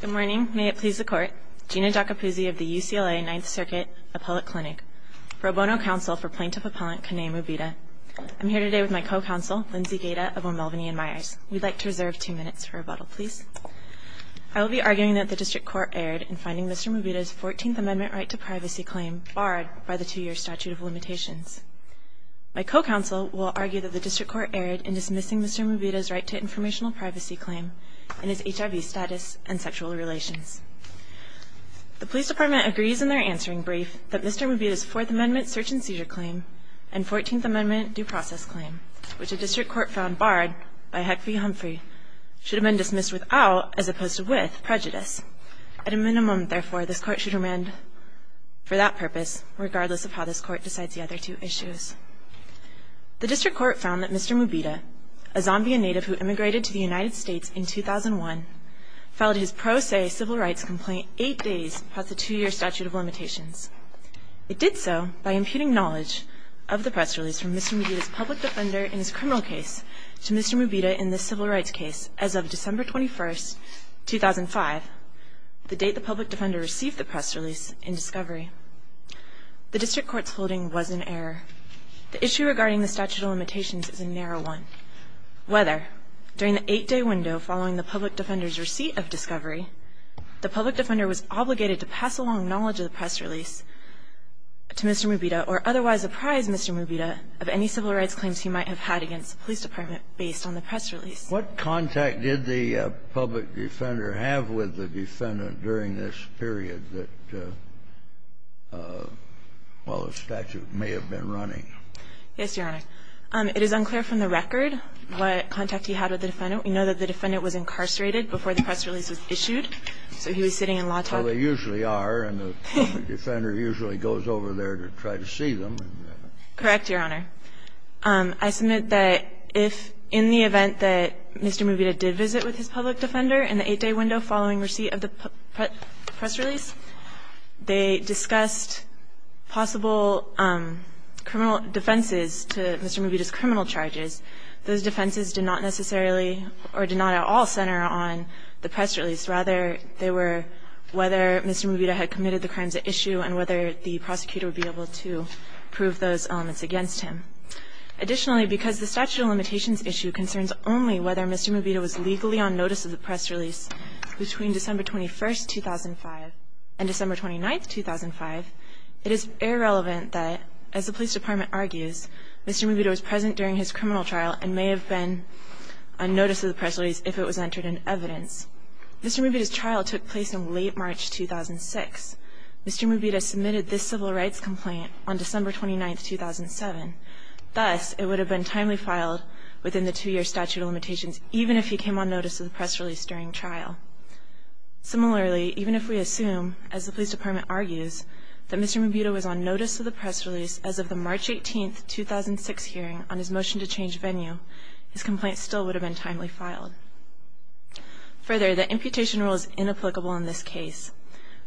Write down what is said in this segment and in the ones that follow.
Good morning. May it please the Court. Gina Giacopuzzi of the UCLA 9th Circuit Appellate Clinic, pro bono counsel for plaintiff-appellant Kanay Mubita. I'm here today with my co-counsel, Lindsay Gaeta of O'Melveny & Myers. We'd like to reserve two minutes for rebuttal, please. I will be arguing that the District Court erred in finding Mr. Mubita's 14th Amendment right to privacy claim barred by the two-year statute of limitations. My co-counsel will argue that the District Court erred in dismissing Mr. Mubita's right to informational privacy claim and his HIV status and sexual relations. The Police Department agrees in their answering brief that Mr. Mubita's 4th Amendment search and seizure claim and 14th Amendment due process claim, which the District Court found barred by Heck v. Humphrey, should have been dismissed without, as opposed to with, prejudice. At a minimum, therefore, this Court should remand for that purpose, regardless of how this Court decides the other two issues. The District Court found that Mr. Mubita, a Zambian native who immigrated to the United States in 2001, filed his pro se civil rights complaint eight days past the two-year statute of limitations. It did so by imputing knowledge of the press release from Mr. Mubita's public defender in his criminal case to Mr. Mubita in this civil rights case as of December 21, 2005, the date the public defender received the press release in discovery. The District Court's holding was in error. The issue regarding the statute of limitations is a narrow one. Whether during the eight-day window following the public defender's receipt of discovery, the public defender was obligated to pass along knowledge of the press release to Mr. Mubita or otherwise apprise Mr. Mubita of any civil rights claims he might have had against the Police Department based on the press release. What contact did the public defender have with the defendant during this period that, while the statute may have been running? Yes, Your Honor. It is unclear from the record what contact he had with the defendant. We know that the defendant was incarcerated before the press release was issued, so he was sitting in law talk. Well, they usually are, and the public defender usually goes over there to try to see Correct, Your Honor. I submit that if, in the event that Mr. Mubita did visit with his public defender in the eight-day window following receipt of the press release, they discussed possible criminal defenses to Mr. Mubita's criminal charges. Those defenses did not necessarily or did not at all center on the press release. Rather, they were whether Mr. Mubita had committed the crimes at issue and whether the prosecutor would be able to prove those elements against him. Additionally, because the statute of limitations issue concerns only whether Mr. Mubita was legally on notice of the press release between December 21, 2005, and December 29, 2005, it is irrelevant that, as the Police Department argues, Mr. Mubita was present during his criminal trial and may have been on notice of the press release if it was entered in evidence. Mr. Mubita's trial took place in late March 2006. Mr. Mubita submitted this civil rights complaint on December 29, 2007. Thus, it would have been timely filed within the two-year statute of limitations even if he came on notice of the press release during trial. Similarly, even if we assume, as the Police Department argues, that Mr. Mubita was on notice of the press release as of the March 18, 2006 hearing on his motion to change venue, his complaint still would have been timely filed. Further, the imputation rule is inapplicable in this case.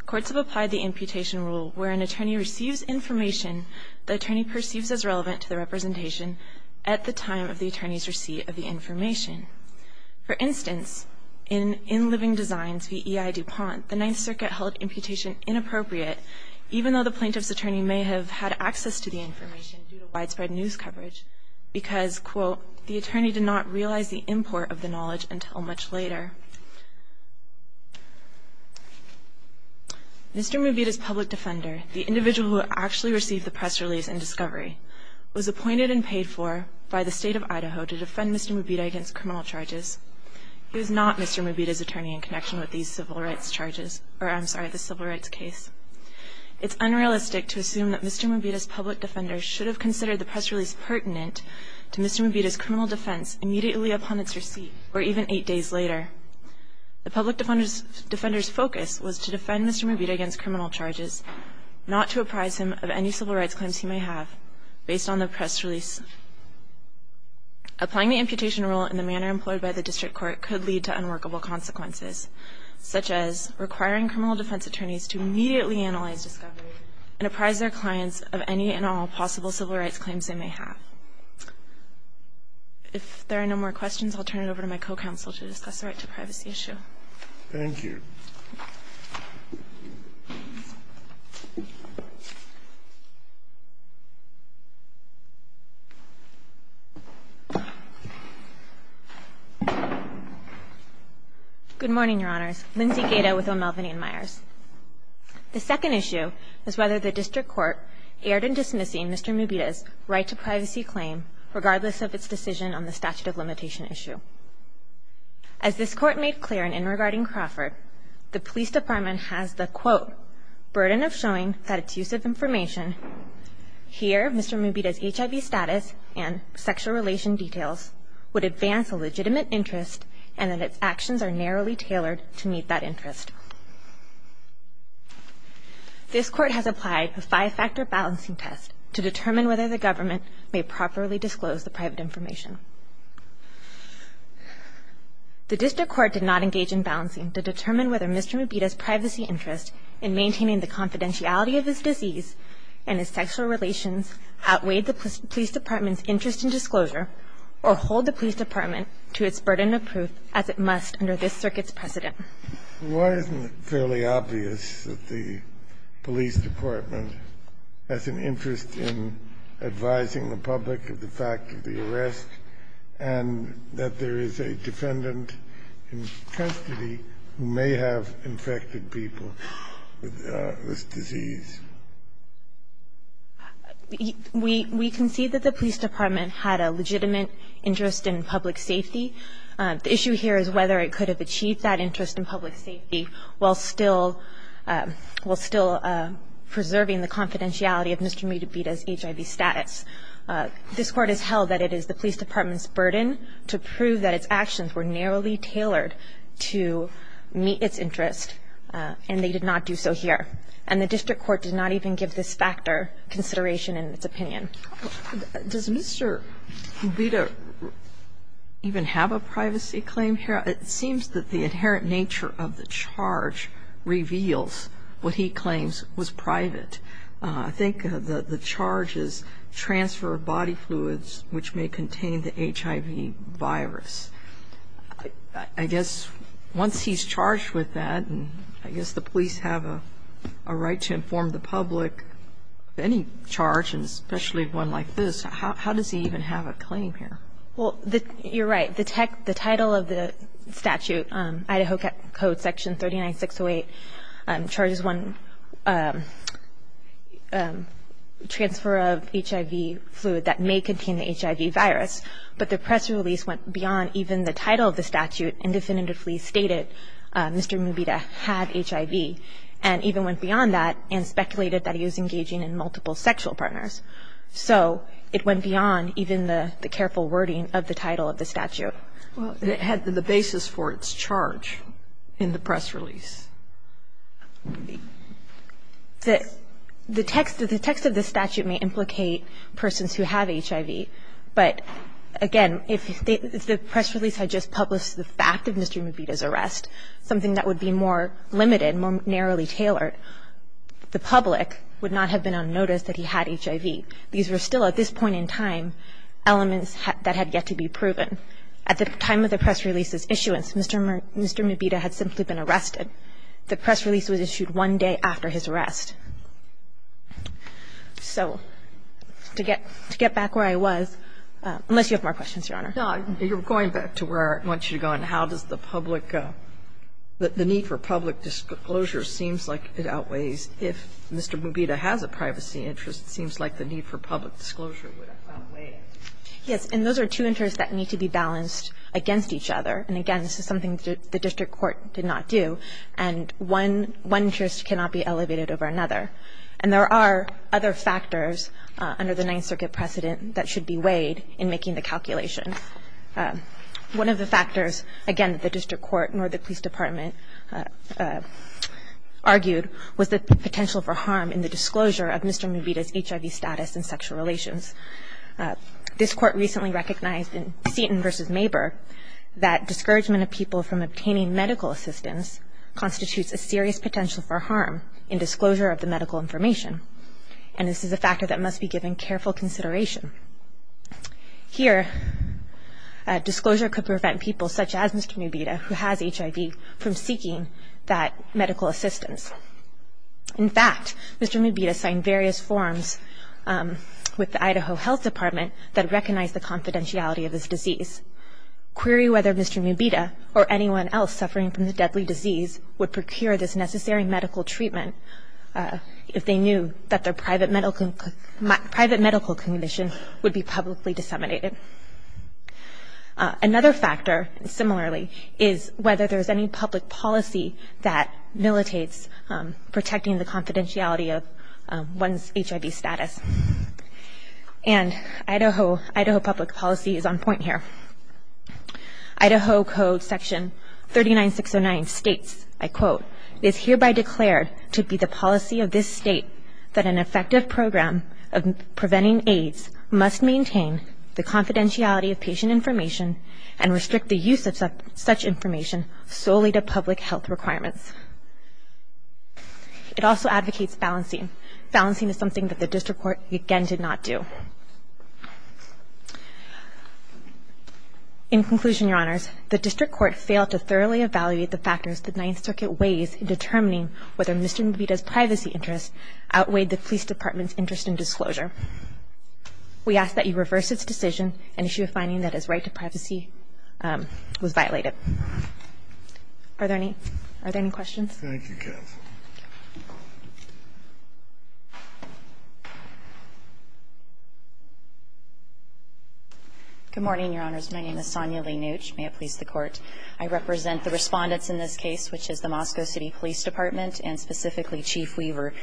Courts have applied the imputation rule where an attorney receives information the attorney perceives as relevant to the representation at the time of the attorney's receipt of the information. For instance, in In Living Designs v. E.I. DuPont, the Ninth Circuit held imputation inappropriate even though the plaintiff's attorney may have had access to the information due to widespread news coverage because, quote, the attorney did not realize the import of the knowledge until much later. Mr. Mubita's public defender, the individual who actually received the press release and discovery, was appointed and paid for by the State of Idaho to defend Mr. Mubita against criminal charges. He was not Mr. Mubita's attorney in connection with these civil rights charges or, I'm sorry, the civil rights case. It's unrealistic to assume that Mr. Mubita's public defender should have considered the press release pertinent to Mr. Mubita's criminal defense immediately upon its receipt or even eight days later. The public defender's focus was to defend Mr. Mubita against criminal charges, not to apprise him of any civil rights claims he may have based on the press release. Applying the imputation rule in the manner employed by the district court could lead to unworkable consequences, such as requiring criminal defense attorneys to immediately analyze discovery and apprise their clients of any and all possible civil rights claims they may have. If there are no more questions, I'll turn it over to my co-counsel to discuss the right to privacy issue. Thank you. Good morning, Your Honors. Lindsay Gaeta with O'Melveny & Myers. The second issue is whether the district court erred in dismissing Mr. Mubita's right to privacy claim, regardless of its decision on the statute of limitation issue. As this court made clear in in regarding Crawford, the police department has the, quote, burden of showing that its use of information, here Mr. Mubita's HIV status and sexual relation details, would advance a legitimate interest and that its actions are narrowly tailored to meet that interest. This court has applied a five-factor balancing test to determine whether the government may properly disclose the private information. The district court did not engage in balancing to determine whether Mr. Mubita's privacy interest in maintaining the confidentiality of his disease and his sexual relations outweighed the police department's interest in disclosure or hold the police department to its burden of proof as it must under this circuit's precedent. Why isn't it fairly obvious that the police department has an interest in advising the public of the fact of the arrest and that there is a defendant in custody who may have infected people with this disease? We concede that the police department had a legitimate interest in public safety. The issue here is whether it could have achieved that interest in public safety while still preserving the confidentiality of Mr. Mubita's HIV status. This court has held that it is the police department's burden to prove that its actions were narrowly tailored to meet its interest, and they did not do so here. And the district court did not even give this factor consideration in its opinion. Does Mr. Mubita even have a privacy claim here? It seems that the inherent nature of the charge reveals what he claims was private. I think the charge is transfer of body fluids which may contain the HIV virus. I guess once he's charged with that, I guess the police have a right to inform the public of any charge, especially one like this. How does he even have a claim here? You're right. The title of the statute, Idaho Code Section 39608, charges one transfer of HIV fluid that may contain the HIV virus, but the press release went beyond even the title of the statute and definitively stated Mr. Mubita had HIV and even went beyond that and speculated that he was engaging in multiple sexual partners. So it went beyond even the careful wording of the title of the statute. Well, it had the basis for its charge in the press release. The text of the statute may implicate persons who have HIV, but, again, if the press release had just published the fact of Mr. Mubita's arrest, something that would be more limited, more narrowly tailored, the public would not have been unnoticed that he had HIV. These were still, at this point in time, elements that had yet to be proven. At the time of the press release's issuance, Mr. Mubita had simply been arrested. The press release was issued one day after his arrest. So to get back where I was, unless you have more questions, Your Honor. No. You're going back to where I want you to go. And how does the public go? The need for public disclosure seems like it outweighs if Mr. Mubita has a privacy interest. It seems like the need for public disclosure would outweigh it. Yes. And those are two interests that need to be balanced against each other. And, again, this is something the district court did not do. And one interest cannot be elevated over another. And there are other factors under the Ninth Circuit precedent that should be weighed in making the calculation. One of the factors, again, that the district court nor the police department argued was the potential for harm in the disclosure of Mr. Mubita's HIV status and sexual relations. This court recently recognized in Seton v. Mabur that discouragement of people from obtaining medical assistance constitutes a serious potential for harm in disclosure of the medical information. And this is a factor that must be given careful consideration. Here, disclosure could prevent people such as Mr. Mubita, who has HIV, from seeking that medical assistance. In fact, Mr. Mubita signed various forms with the Idaho Health Department that recognize the confidentiality of his disease, query whether Mr. Mubita or anyone else suffering from the deadly disease would procure this necessary medical treatment if they knew that their private medical condition would be publicly disseminated. Another factor, similarly, is whether there is any public policy that militates protecting the confidentiality of one's HIV status. And Idaho public policy is on point here. Idaho Code section 39609 states, I quote, it is hereby declared to be the policy of this state that an effective program of preventing AIDS must maintain the confidentiality of patient information and restrict the use of such information solely to public health requirements. It also advocates balancing. Balancing is something that the district court, again, did not do. In conclusion, Your Honors, the district court failed to thoroughly evaluate the factors the Ninth Circuit weighs in determining whether Mr. Mubita's privacy interests outweighed the police department's interest in disclosure. We ask that you reverse its decision and issue a finding that his right to privacy was violated. Are there any questions? Thank you, Kath. Good morning, Your Honors. My name is Sonia Leenuch. May it please the Court. I represent the Respondents in this case, which is the Moscow City Police Department and specifically Chief Weaver.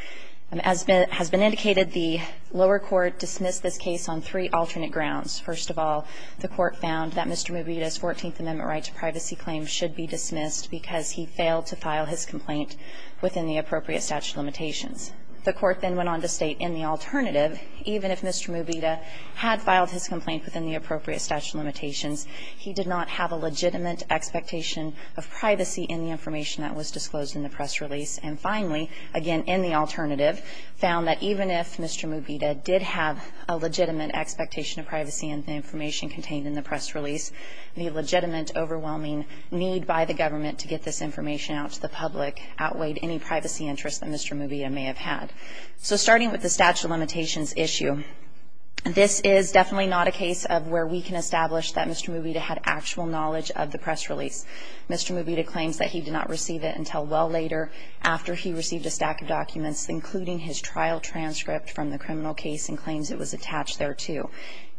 As has been indicated, the lower court dismissed this case on three alternate grounds. First of all, the Court found that Mr. Mubita's Fourteenth Amendment right to privacy claims should be dismissed because he failed to file his complaint within the appropriate statute of limitations. The Court then went on to state in the alternative, even if Mr. Mubita had filed his complaint within the appropriate statute of limitations, he did not have a legitimate expectation of privacy in the information that was disclosed in the press release. And finally, again, in the alternative, found that even if Mr. Mubita did have a legitimate expectation of privacy in the information contained in the press release, the legitimate and overwhelming need by the government to get this information out to the public outweighed any privacy interests that Mr. Mubita may have had. So starting with the statute of limitations issue, this is definitely not a case of where we can establish that Mr. Mubita had actual knowledge of the press release. Mr. Mubita claims that he did not receive it until well later after he received a stack of documents, including his trial transcript from the criminal case and claims it was attached there, too.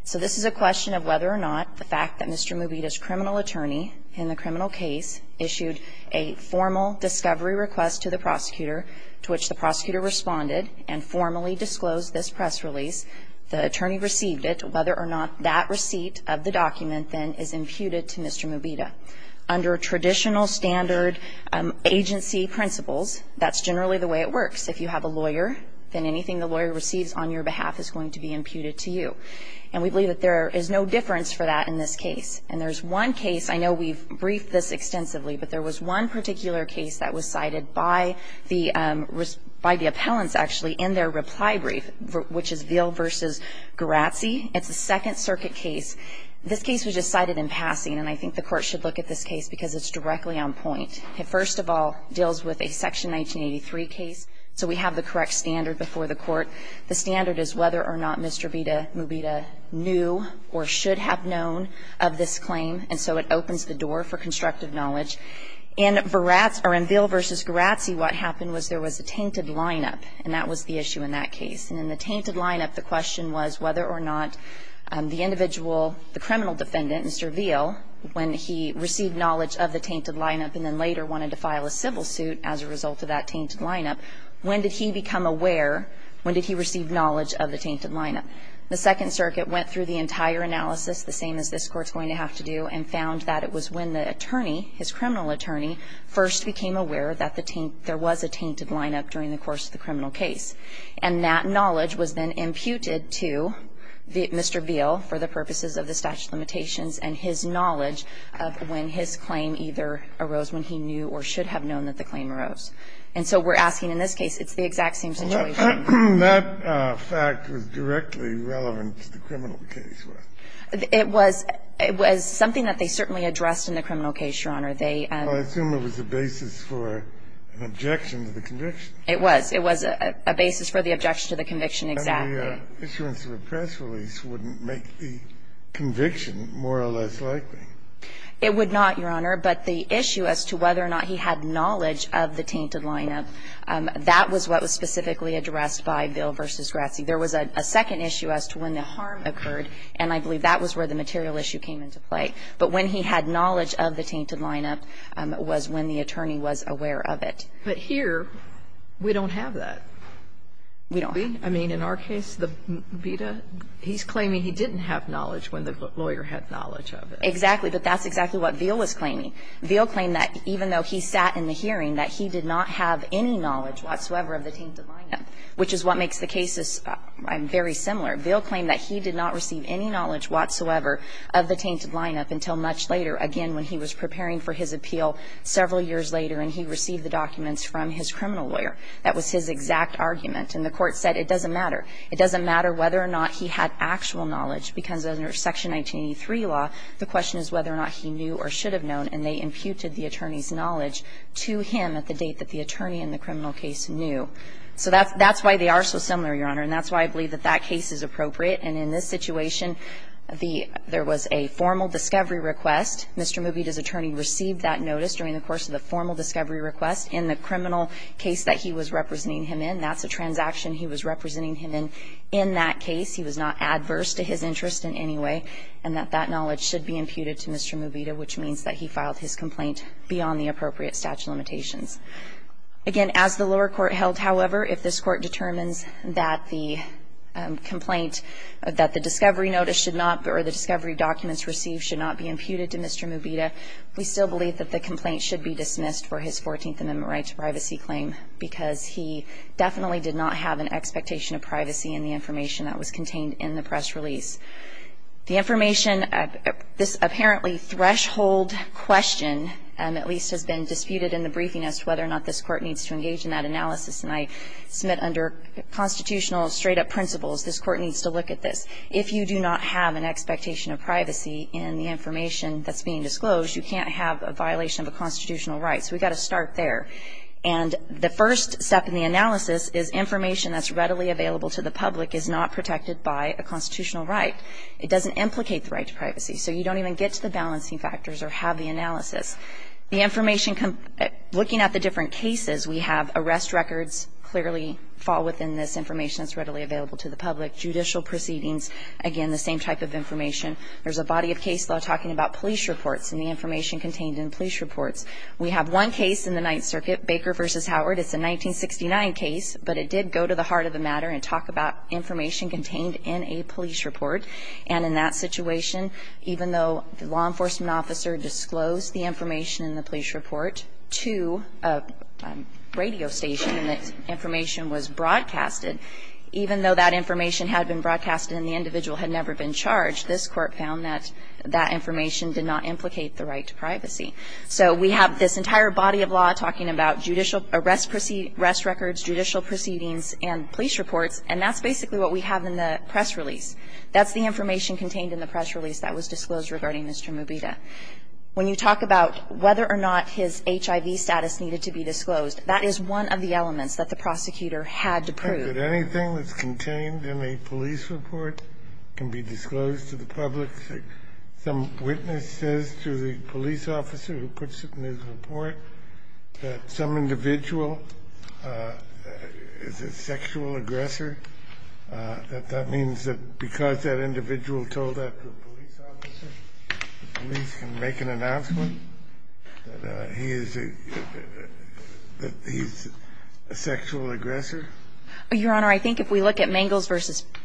So this is a question of whether or not the fact that Mr. Mubita's criminal attorney in the criminal case issued a formal discovery request to the prosecutor to which the prosecutor responded and formally disclosed this press release, the attorney received it, whether or not that receipt of the document then is imputed to Mr. Mubita. Under traditional standard agency principles, that's generally the way it works. If you have a lawyer, then anything the lawyer receives on your behalf is going to be imputed to you. And we believe that there is no difference for that in this case. And there's one case, I know we've briefed this extensively, but there was one particular case that was cited by the appellants, actually, in their reply brief, which is Ville v. Garazzi. It's a Second Circuit case. This case was just cited in passing, and I think the Court should look at this case because it's directly on point. It first of all deals with a Section 1983 case, so we have the correct standard before the Court. The standard is whether or not Mr. Vita Mubita knew or should have known of this claim, and so it opens the door for constructive knowledge. In Garazzi or in Ville v. Garazzi, what happened was there was a tainted lineup, and that was the issue in that case. And in the tainted lineup, the question was whether or not the individual, the criminal defendant, Mr. Ville, when he received knowledge of the tainted lineup and then later wanted to file a civil suit as a result of that tainted lineup, when did he become aware, when did he receive knowledge of the tainted lineup? The Second Circuit went through the entire analysis, the same as this Court is going to have to do, and found that it was when the attorney, his criminal attorney, first became aware that there was a tainted lineup during the course of the criminal case, and that knowledge was then imputed to Mr. Ville for the purposes of the statute of limitations and his knowledge of when his claim either arose when he knew or should have known that the claim arose. And so we're asking in this case, it's the exact same situation. That fact was directly relevant to the criminal case. It was. It was something that they certainly addressed in the criminal case, Your Honor. They assume it was a basis for an objection to the conviction. It was. It was a basis for the objection to the conviction, exactly. And the issuance of a press release wouldn't make the conviction more or less likely. It would not, Your Honor. But the issue as to whether or not he had knowledge of the tainted lineup, that was what was specifically addressed by Ville v. Grassi. There was a second issue as to when the harm occurred, and I believe that was where the material issue came into play. But when he had knowledge of the tainted lineup was when the attorney was aware of it. But here, we don't have that. We don't. I mean, in our case, the Vita, he's claiming he didn't have knowledge when the lawyer had knowledge of it. Exactly. But that's exactly what Ville was claiming. Ville claimed that even though he sat in the hearing, that he did not have any knowledge whatsoever of the tainted lineup, which is what makes the cases very similar. Ville claimed that he did not receive any knowledge whatsoever of the tainted lineup until much later, again, when he was preparing for his appeal several years later and he received the documents from his criminal lawyer. That was his exact argument. And the Court said it doesn't matter. It doesn't matter whether or not he had actual knowledge, because under Section 1983 law, the question is whether or not he knew or should have known, and they imputed the attorney's knowledge to him at the date that the attorney in the criminal case knew. So that's why they are so similar, Your Honor. And that's why I believe that that case is appropriate. And in this situation, there was a formal discovery request. Mr. Mooby, his attorney, received that notice during the course of the formal discovery request in the criminal case that he was representing him in. That's a transaction he was representing him in in that case. He was not adverse to his interest in any way. And that that knowledge should be imputed to Mr. Mooby, which means that he filed his complaint beyond the appropriate statute of limitations. Again, as the lower court held, however, if this Court determines that the complaint that the discovery notice should not, or the discovery documents received should not be imputed to Mr. Mooby, we still believe that the complaint should be dismissed for his 14th Amendment right to privacy claim, because he definitely did not have an expectation of privacy in the information that was contained in the press release. The information, this apparently threshold question at least has been disputed in the briefing as to whether or not this Court needs to engage in that analysis. And I submit under constitutional straight-up principles, this Court needs to look at this. If you do not have an expectation of privacy in the information that's being disclosed, you can't have a violation of a constitutional right. So we've got to start there. And the first step in the analysis is information that's readily available to the public is not protected by a constitutional right. It doesn't implicate the right to privacy. So you don't even get to the balancing factors or have the analysis. The information, looking at the different cases, we have arrest records clearly fall within this information that's readily available to the public, judicial proceedings, again, the same type of information. There's a body of case law talking about police reports and the information contained in police reports. We have one case in the Ninth Circuit, Baker v. Howard. It's a 1969 case, but it did go to the heart of the matter and talk about information contained in a police report. And in that situation, even though the law enforcement officer disclosed the information in the police report to a radio station and that information was broadcasted, even though that information had been broadcasted and the individual had never been charged, this Court found that that information did not implicate the right to privacy. So we have this entire body of law talking about judicial arrest records, judicial proceedings, and police reports, and that's basically what we have in the press release. That's the information contained in the press release that was disclosed regarding Mr. Mubita. When you talk about whether or not his HIV status needed to be disclosed, that is one of the elements that the prosecutor had to prove. Kennedy, anything that's contained in a police report can be disclosed to the public? Some witness says to the police officer who puts it in his report that some individual is a sexual aggressor, that that means that because that individual told that to a police officer, the police can make an announcement that he is a sexual aggressor? Your Honor, I think if we look at Mangels v.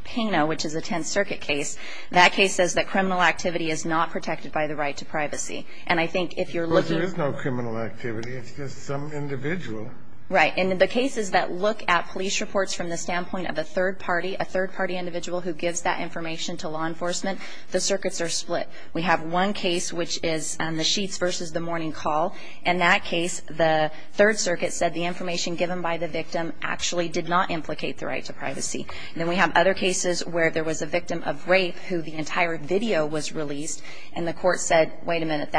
Pena, which is a Tenth Circuit case, that case says that criminal activity is not protected by the right to privacy. And I think if you're looking... Well, there is no criminal activity. It's just some individual. Right. And the cases that look at police reports from the standpoint of a third party, a third party individual who gives that information to law enforcement, the circuits are split. We have one case, which is the Sheets v. The Morning Call. In that case, the Third Circuit said the information given by the victim actually did not implicate the right to privacy. And then we have other cases where there was a victim of rape who the entire video was released, and the court said, wait a minute,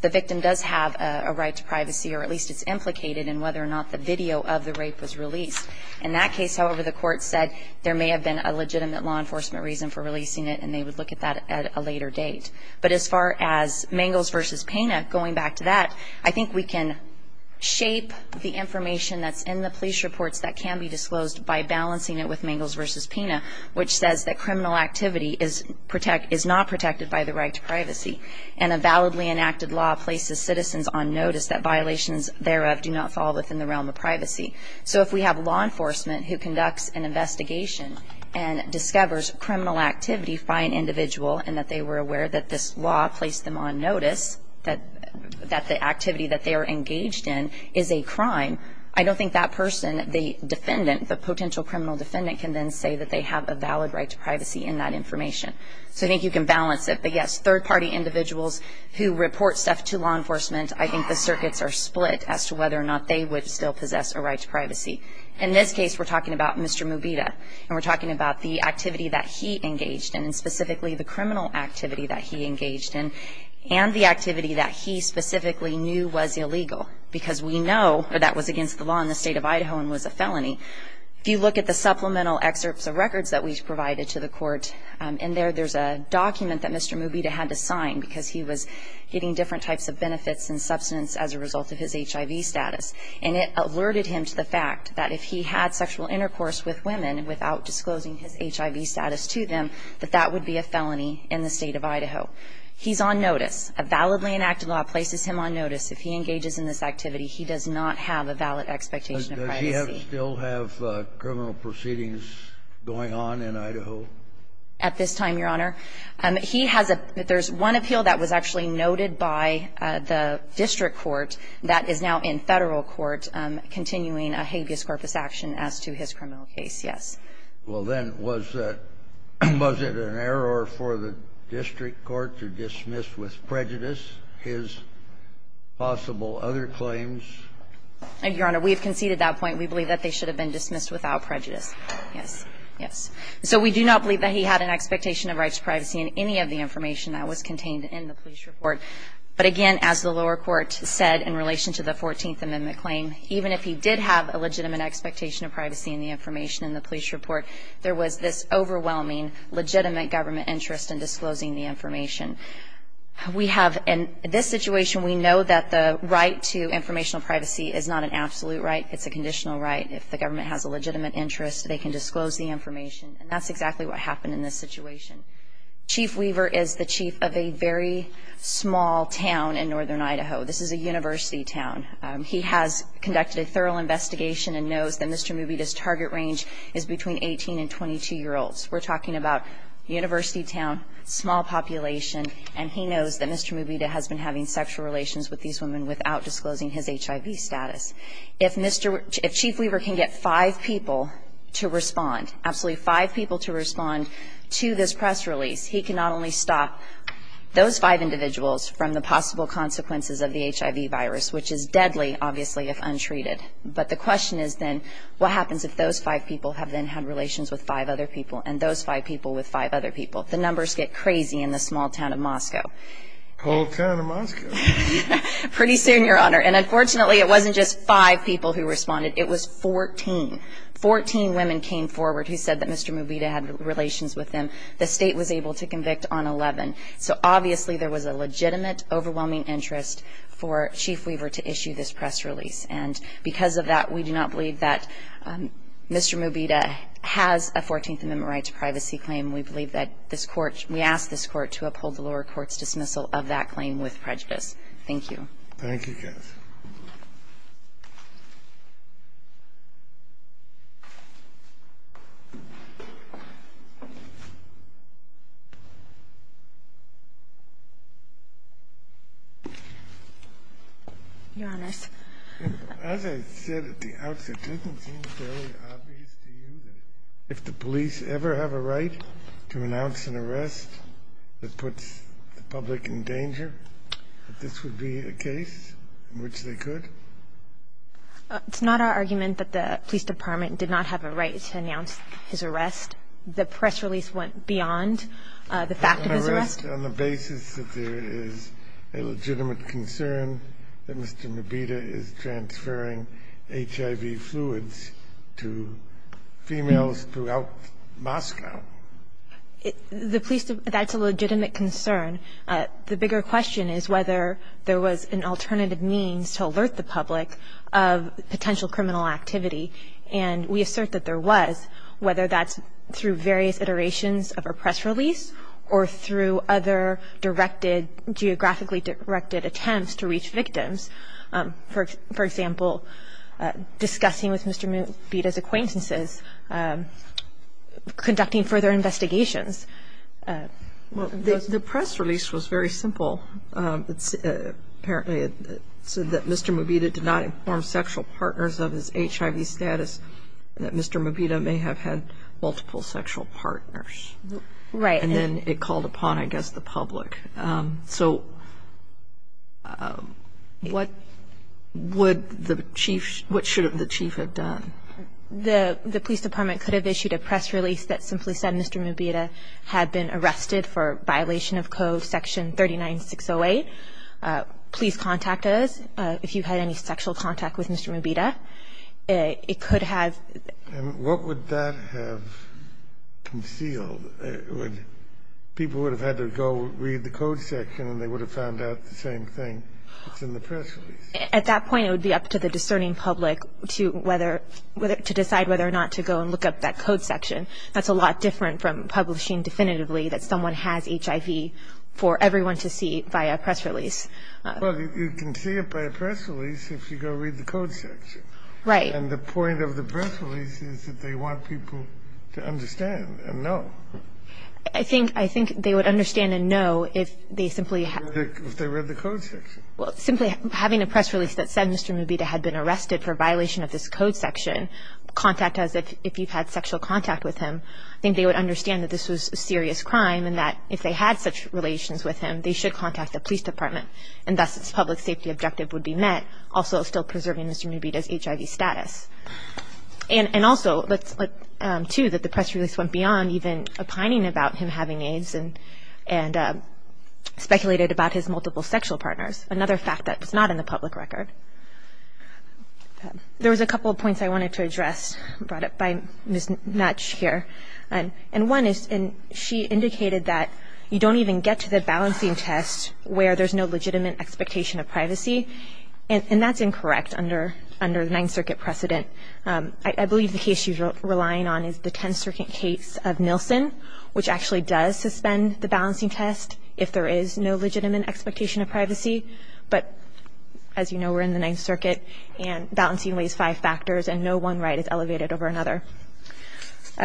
the victim does have a right to privacy, or at least it's implicated in whether or not the video of the rape was released. In that case, however, the court said there may have been a legitimate law enforcement reason for releasing it, and they would look at that at a later date. But as far as Mangels v. Pena, going back to that, I think we can shape the information that's in the police reports that can be disclosed by balancing it with Mangels v. Pena, which says that criminal activity is not protected by the right to privacy, and a validly enacted law places citizens on notice that violations thereof do not fall within the realm of privacy. So if we have law enforcement who conducts an investigation and discovers criminal activity by an individual, and that they were aware that this law placed them on notice that the activity that they are engaged in is a crime, I don't think that person, the defendant, the potential criminal defendant, can then say that they have a valid right to privacy in that information. So I think you can balance it. But, yes, third-party individuals who report stuff to law enforcement, I think the circuits are split as to whether or not they would still possess a right to privacy. In this case, we're talking about Mr. Mubeda, and we're talking about the activity that he engaged in, and specifically the criminal activity that he engaged in, and the activity that he specifically knew was illegal, because we know that that was against the law in the state of Idaho and was a felony. If you look at the supplemental excerpts of records that we provided to the court, in there there's a document that Mr. Mubeda had to sign because he was getting different types of benefits and substance as a result of his HIV status. And it alerted him to the fact that if he had sexual intercourse with women without disclosing his HIV status to them, that that would be a felony in the state of Idaho. He's on notice. A validly enacted law places him on notice. If he engages in this activity, he does not have a valid expectation of privacy. Kennedy. Does he still have criminal proceedings going on in Idaho? At this time, Your Honor, he has a – there's one appeal that was actually noted by the district court that is now in Federal court continuing a habeas corpus action as to his criminal case, yes. Well, then, was it an error for the district court to dismiss with prejudice his possible other claims? Your Honor, we have conceded that point. We believe that they should have been dismissed without prejudice. Yes. Yes. So we do not believe that he had an expectation of rights to privacy in any of the information that was contained in the police report. But again, as the lower court said in relation to the Fourteenth Amendment claim, even if he did have a legitimate expectation of privacy in the information in the police report, there was this overwhelming legitimate government interest in disclosing the information. We have – in this situation, we know that the right to informational privacy is not an absolute right. It's a conditional right. If the government has a legitimate interest, they can disclose the information. And that's exactly what happened in this situation. Chief Weaver is the chief of a very small town in northern Idaho. This is a university town. He has conducted a thorough investigation and knows that Mr. Mubita's target range is between 18 and 22-year-olds. We're talking about university town, small population, and he knows that Mr. Mubita has been having sexual relations with these women without disclosing his HIV status. If Chief Weaver can get five people to respond, absolutely five people to respond to this press release, he can not only stop those five individuals from the possible consequences of the HIV virus, which is deadly, obviously, if untreated. But the question is then, what happens if those five people have then had relations with five other people and those five people with five other people? The numbers get crazy in the small town of Moscow. The whole town of Moscow. Pretty soon, Your Honor. And unfortunately, it wasn't just five people who responded. It was 14. Fourteen women came forward who said that Mr. Mubita had relations with them. The state was able to convict on 11. So obviously, there was a legitimate overwhelming interest for Chief Weaver to issue this press release. And because of that, we do not believe that Mr. Mubita has a 14th Amendment right to privacy claim. We believe that this Court we ask this Court to uphold the lower court's dismissal of that claim with prejudice. Thank you. Thank you, Kath. Your Honor. As I said at the outset, doesn't it seem fairly obvious to you that if the police ever have a right to announce an arrest that puts the public in danger, that this would be a case in which they could? It's not our argument that the police department did not have a right to announce his arrest. The press release went beyond the fact of his arrest. But on the basis that there is a legitimate concern that Mr. Mubita is transferring HIV fluids to females throughout Moscow. The police, that's a legitimate concern. The bigger question is whether there was an alternative means to alert the public of potential criminal activity. And we assert that there was, whether that's through various iterations of a press release or through other directed, geographically directed attempts to reach victims. For example, discussing with Mr. Mubita's acquaintances, conducting further investigations. The press release was very simple. Apparently it said that Mr. Mubita did not inform sexual partners of his HIV status, that Mr. Mubita may have had multiple sexual partners. Right. And then it called upon, I guess, the public. So what would the chief, what should the chief have done? The police department could have issued a press release that simply said Mr. Mubita had been arrested for violation of code section 39608. Please contact us if you had any sexual contact with Mr. Mubita. It could have. And what would that have concealed? People would have had to go read the code section and they would have found out the same thing. It's in the press release. At that point it would be up to the discerning public to decide whether or not to go and look up that code section. That's a lot different from publishing definitively that someone has HIV for everyone to see by a press release. Well, you can see it by a press release if you go read the code section. Right. And the point of the press release is that they want people to understand and know. I think they would understand and know if they simply had. If they read the code section. Well, simply having a press release that said Mr. Mubita had been arrested for violation of this code section, contact us if you've had sexual contact with him, I think they would understand that this was a serious crime and that if they had such relations with him, they should contact the police department, and thus its public safety objective would be met, also still preserving Mr. Mubita's HIV status. And also, too, that the press release went beyond even opining about him having AIDS and speculated about his multiple sexual partners, another fact that was not in the public record. There was a couple of points I wanted to address brought up by Ms. Nutsch here. And one is she indicated that you don't even get to the balancing test where there's no legitimate expectation of privacy. And that's incorrect under the Ninth Circuit precedent. I believe the case she's relying on is the Tenth Circuit case of Nielsen, which actually does suspend the balancing test if there is no legitimate expectation of privacy. But as you know, we're in the Ninth Circuit, and balancing weighs five factors, and no one right is elevated over another.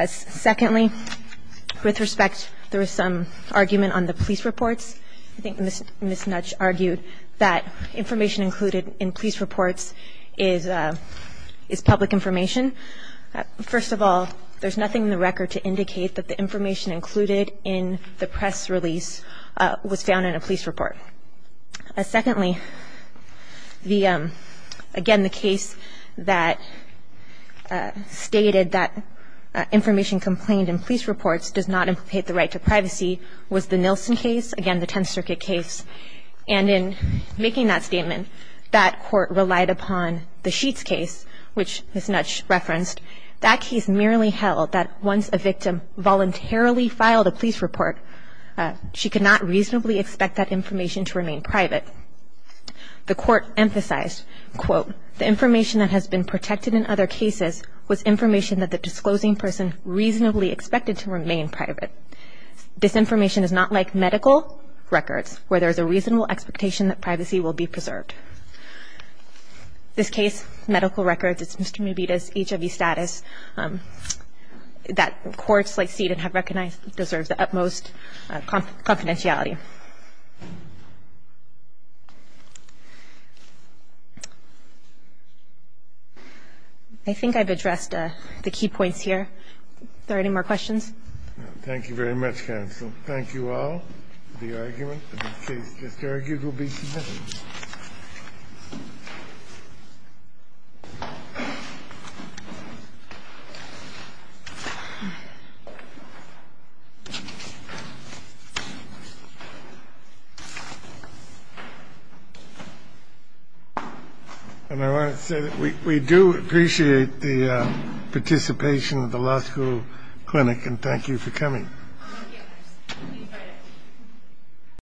Secondly, with respect, there was some argument on the police reports. I think Ms. Nutsch argued that information included in police reports is public information. First of all, there's nothing in the record to indicate that the information included in the press release was found in a police report. Secondly, again, the case that stated that information complained in police reports does not implicate the right to privacy was the Nielsen case, again, the Tenth Circuit case. And in making that statement, that court relied upon the Sheets case, which Ms. Nutsch referenced. That case merely held that once a victim voluntarily filed a police report, she could not reasonably expect that information to remain private. The court emphasized, quote, the information that has been protected in other cases was information that the disclosing person reasonably expected to remain private. This information is not like medical records, where there's a reasonable expectation that privacy will be preserved. This case, medical records, it's Mr. Mubeda's HIV status that courts like CETA have recognized deserves the utmost confidentiality. I think I've addressed the key points here. Are there any more questions? Thank you very much, counsel. Thank you all. The argument of this case just argued will be submitted. And I want to say that we do appreciate the participation of the law school clinic and thank you for coming.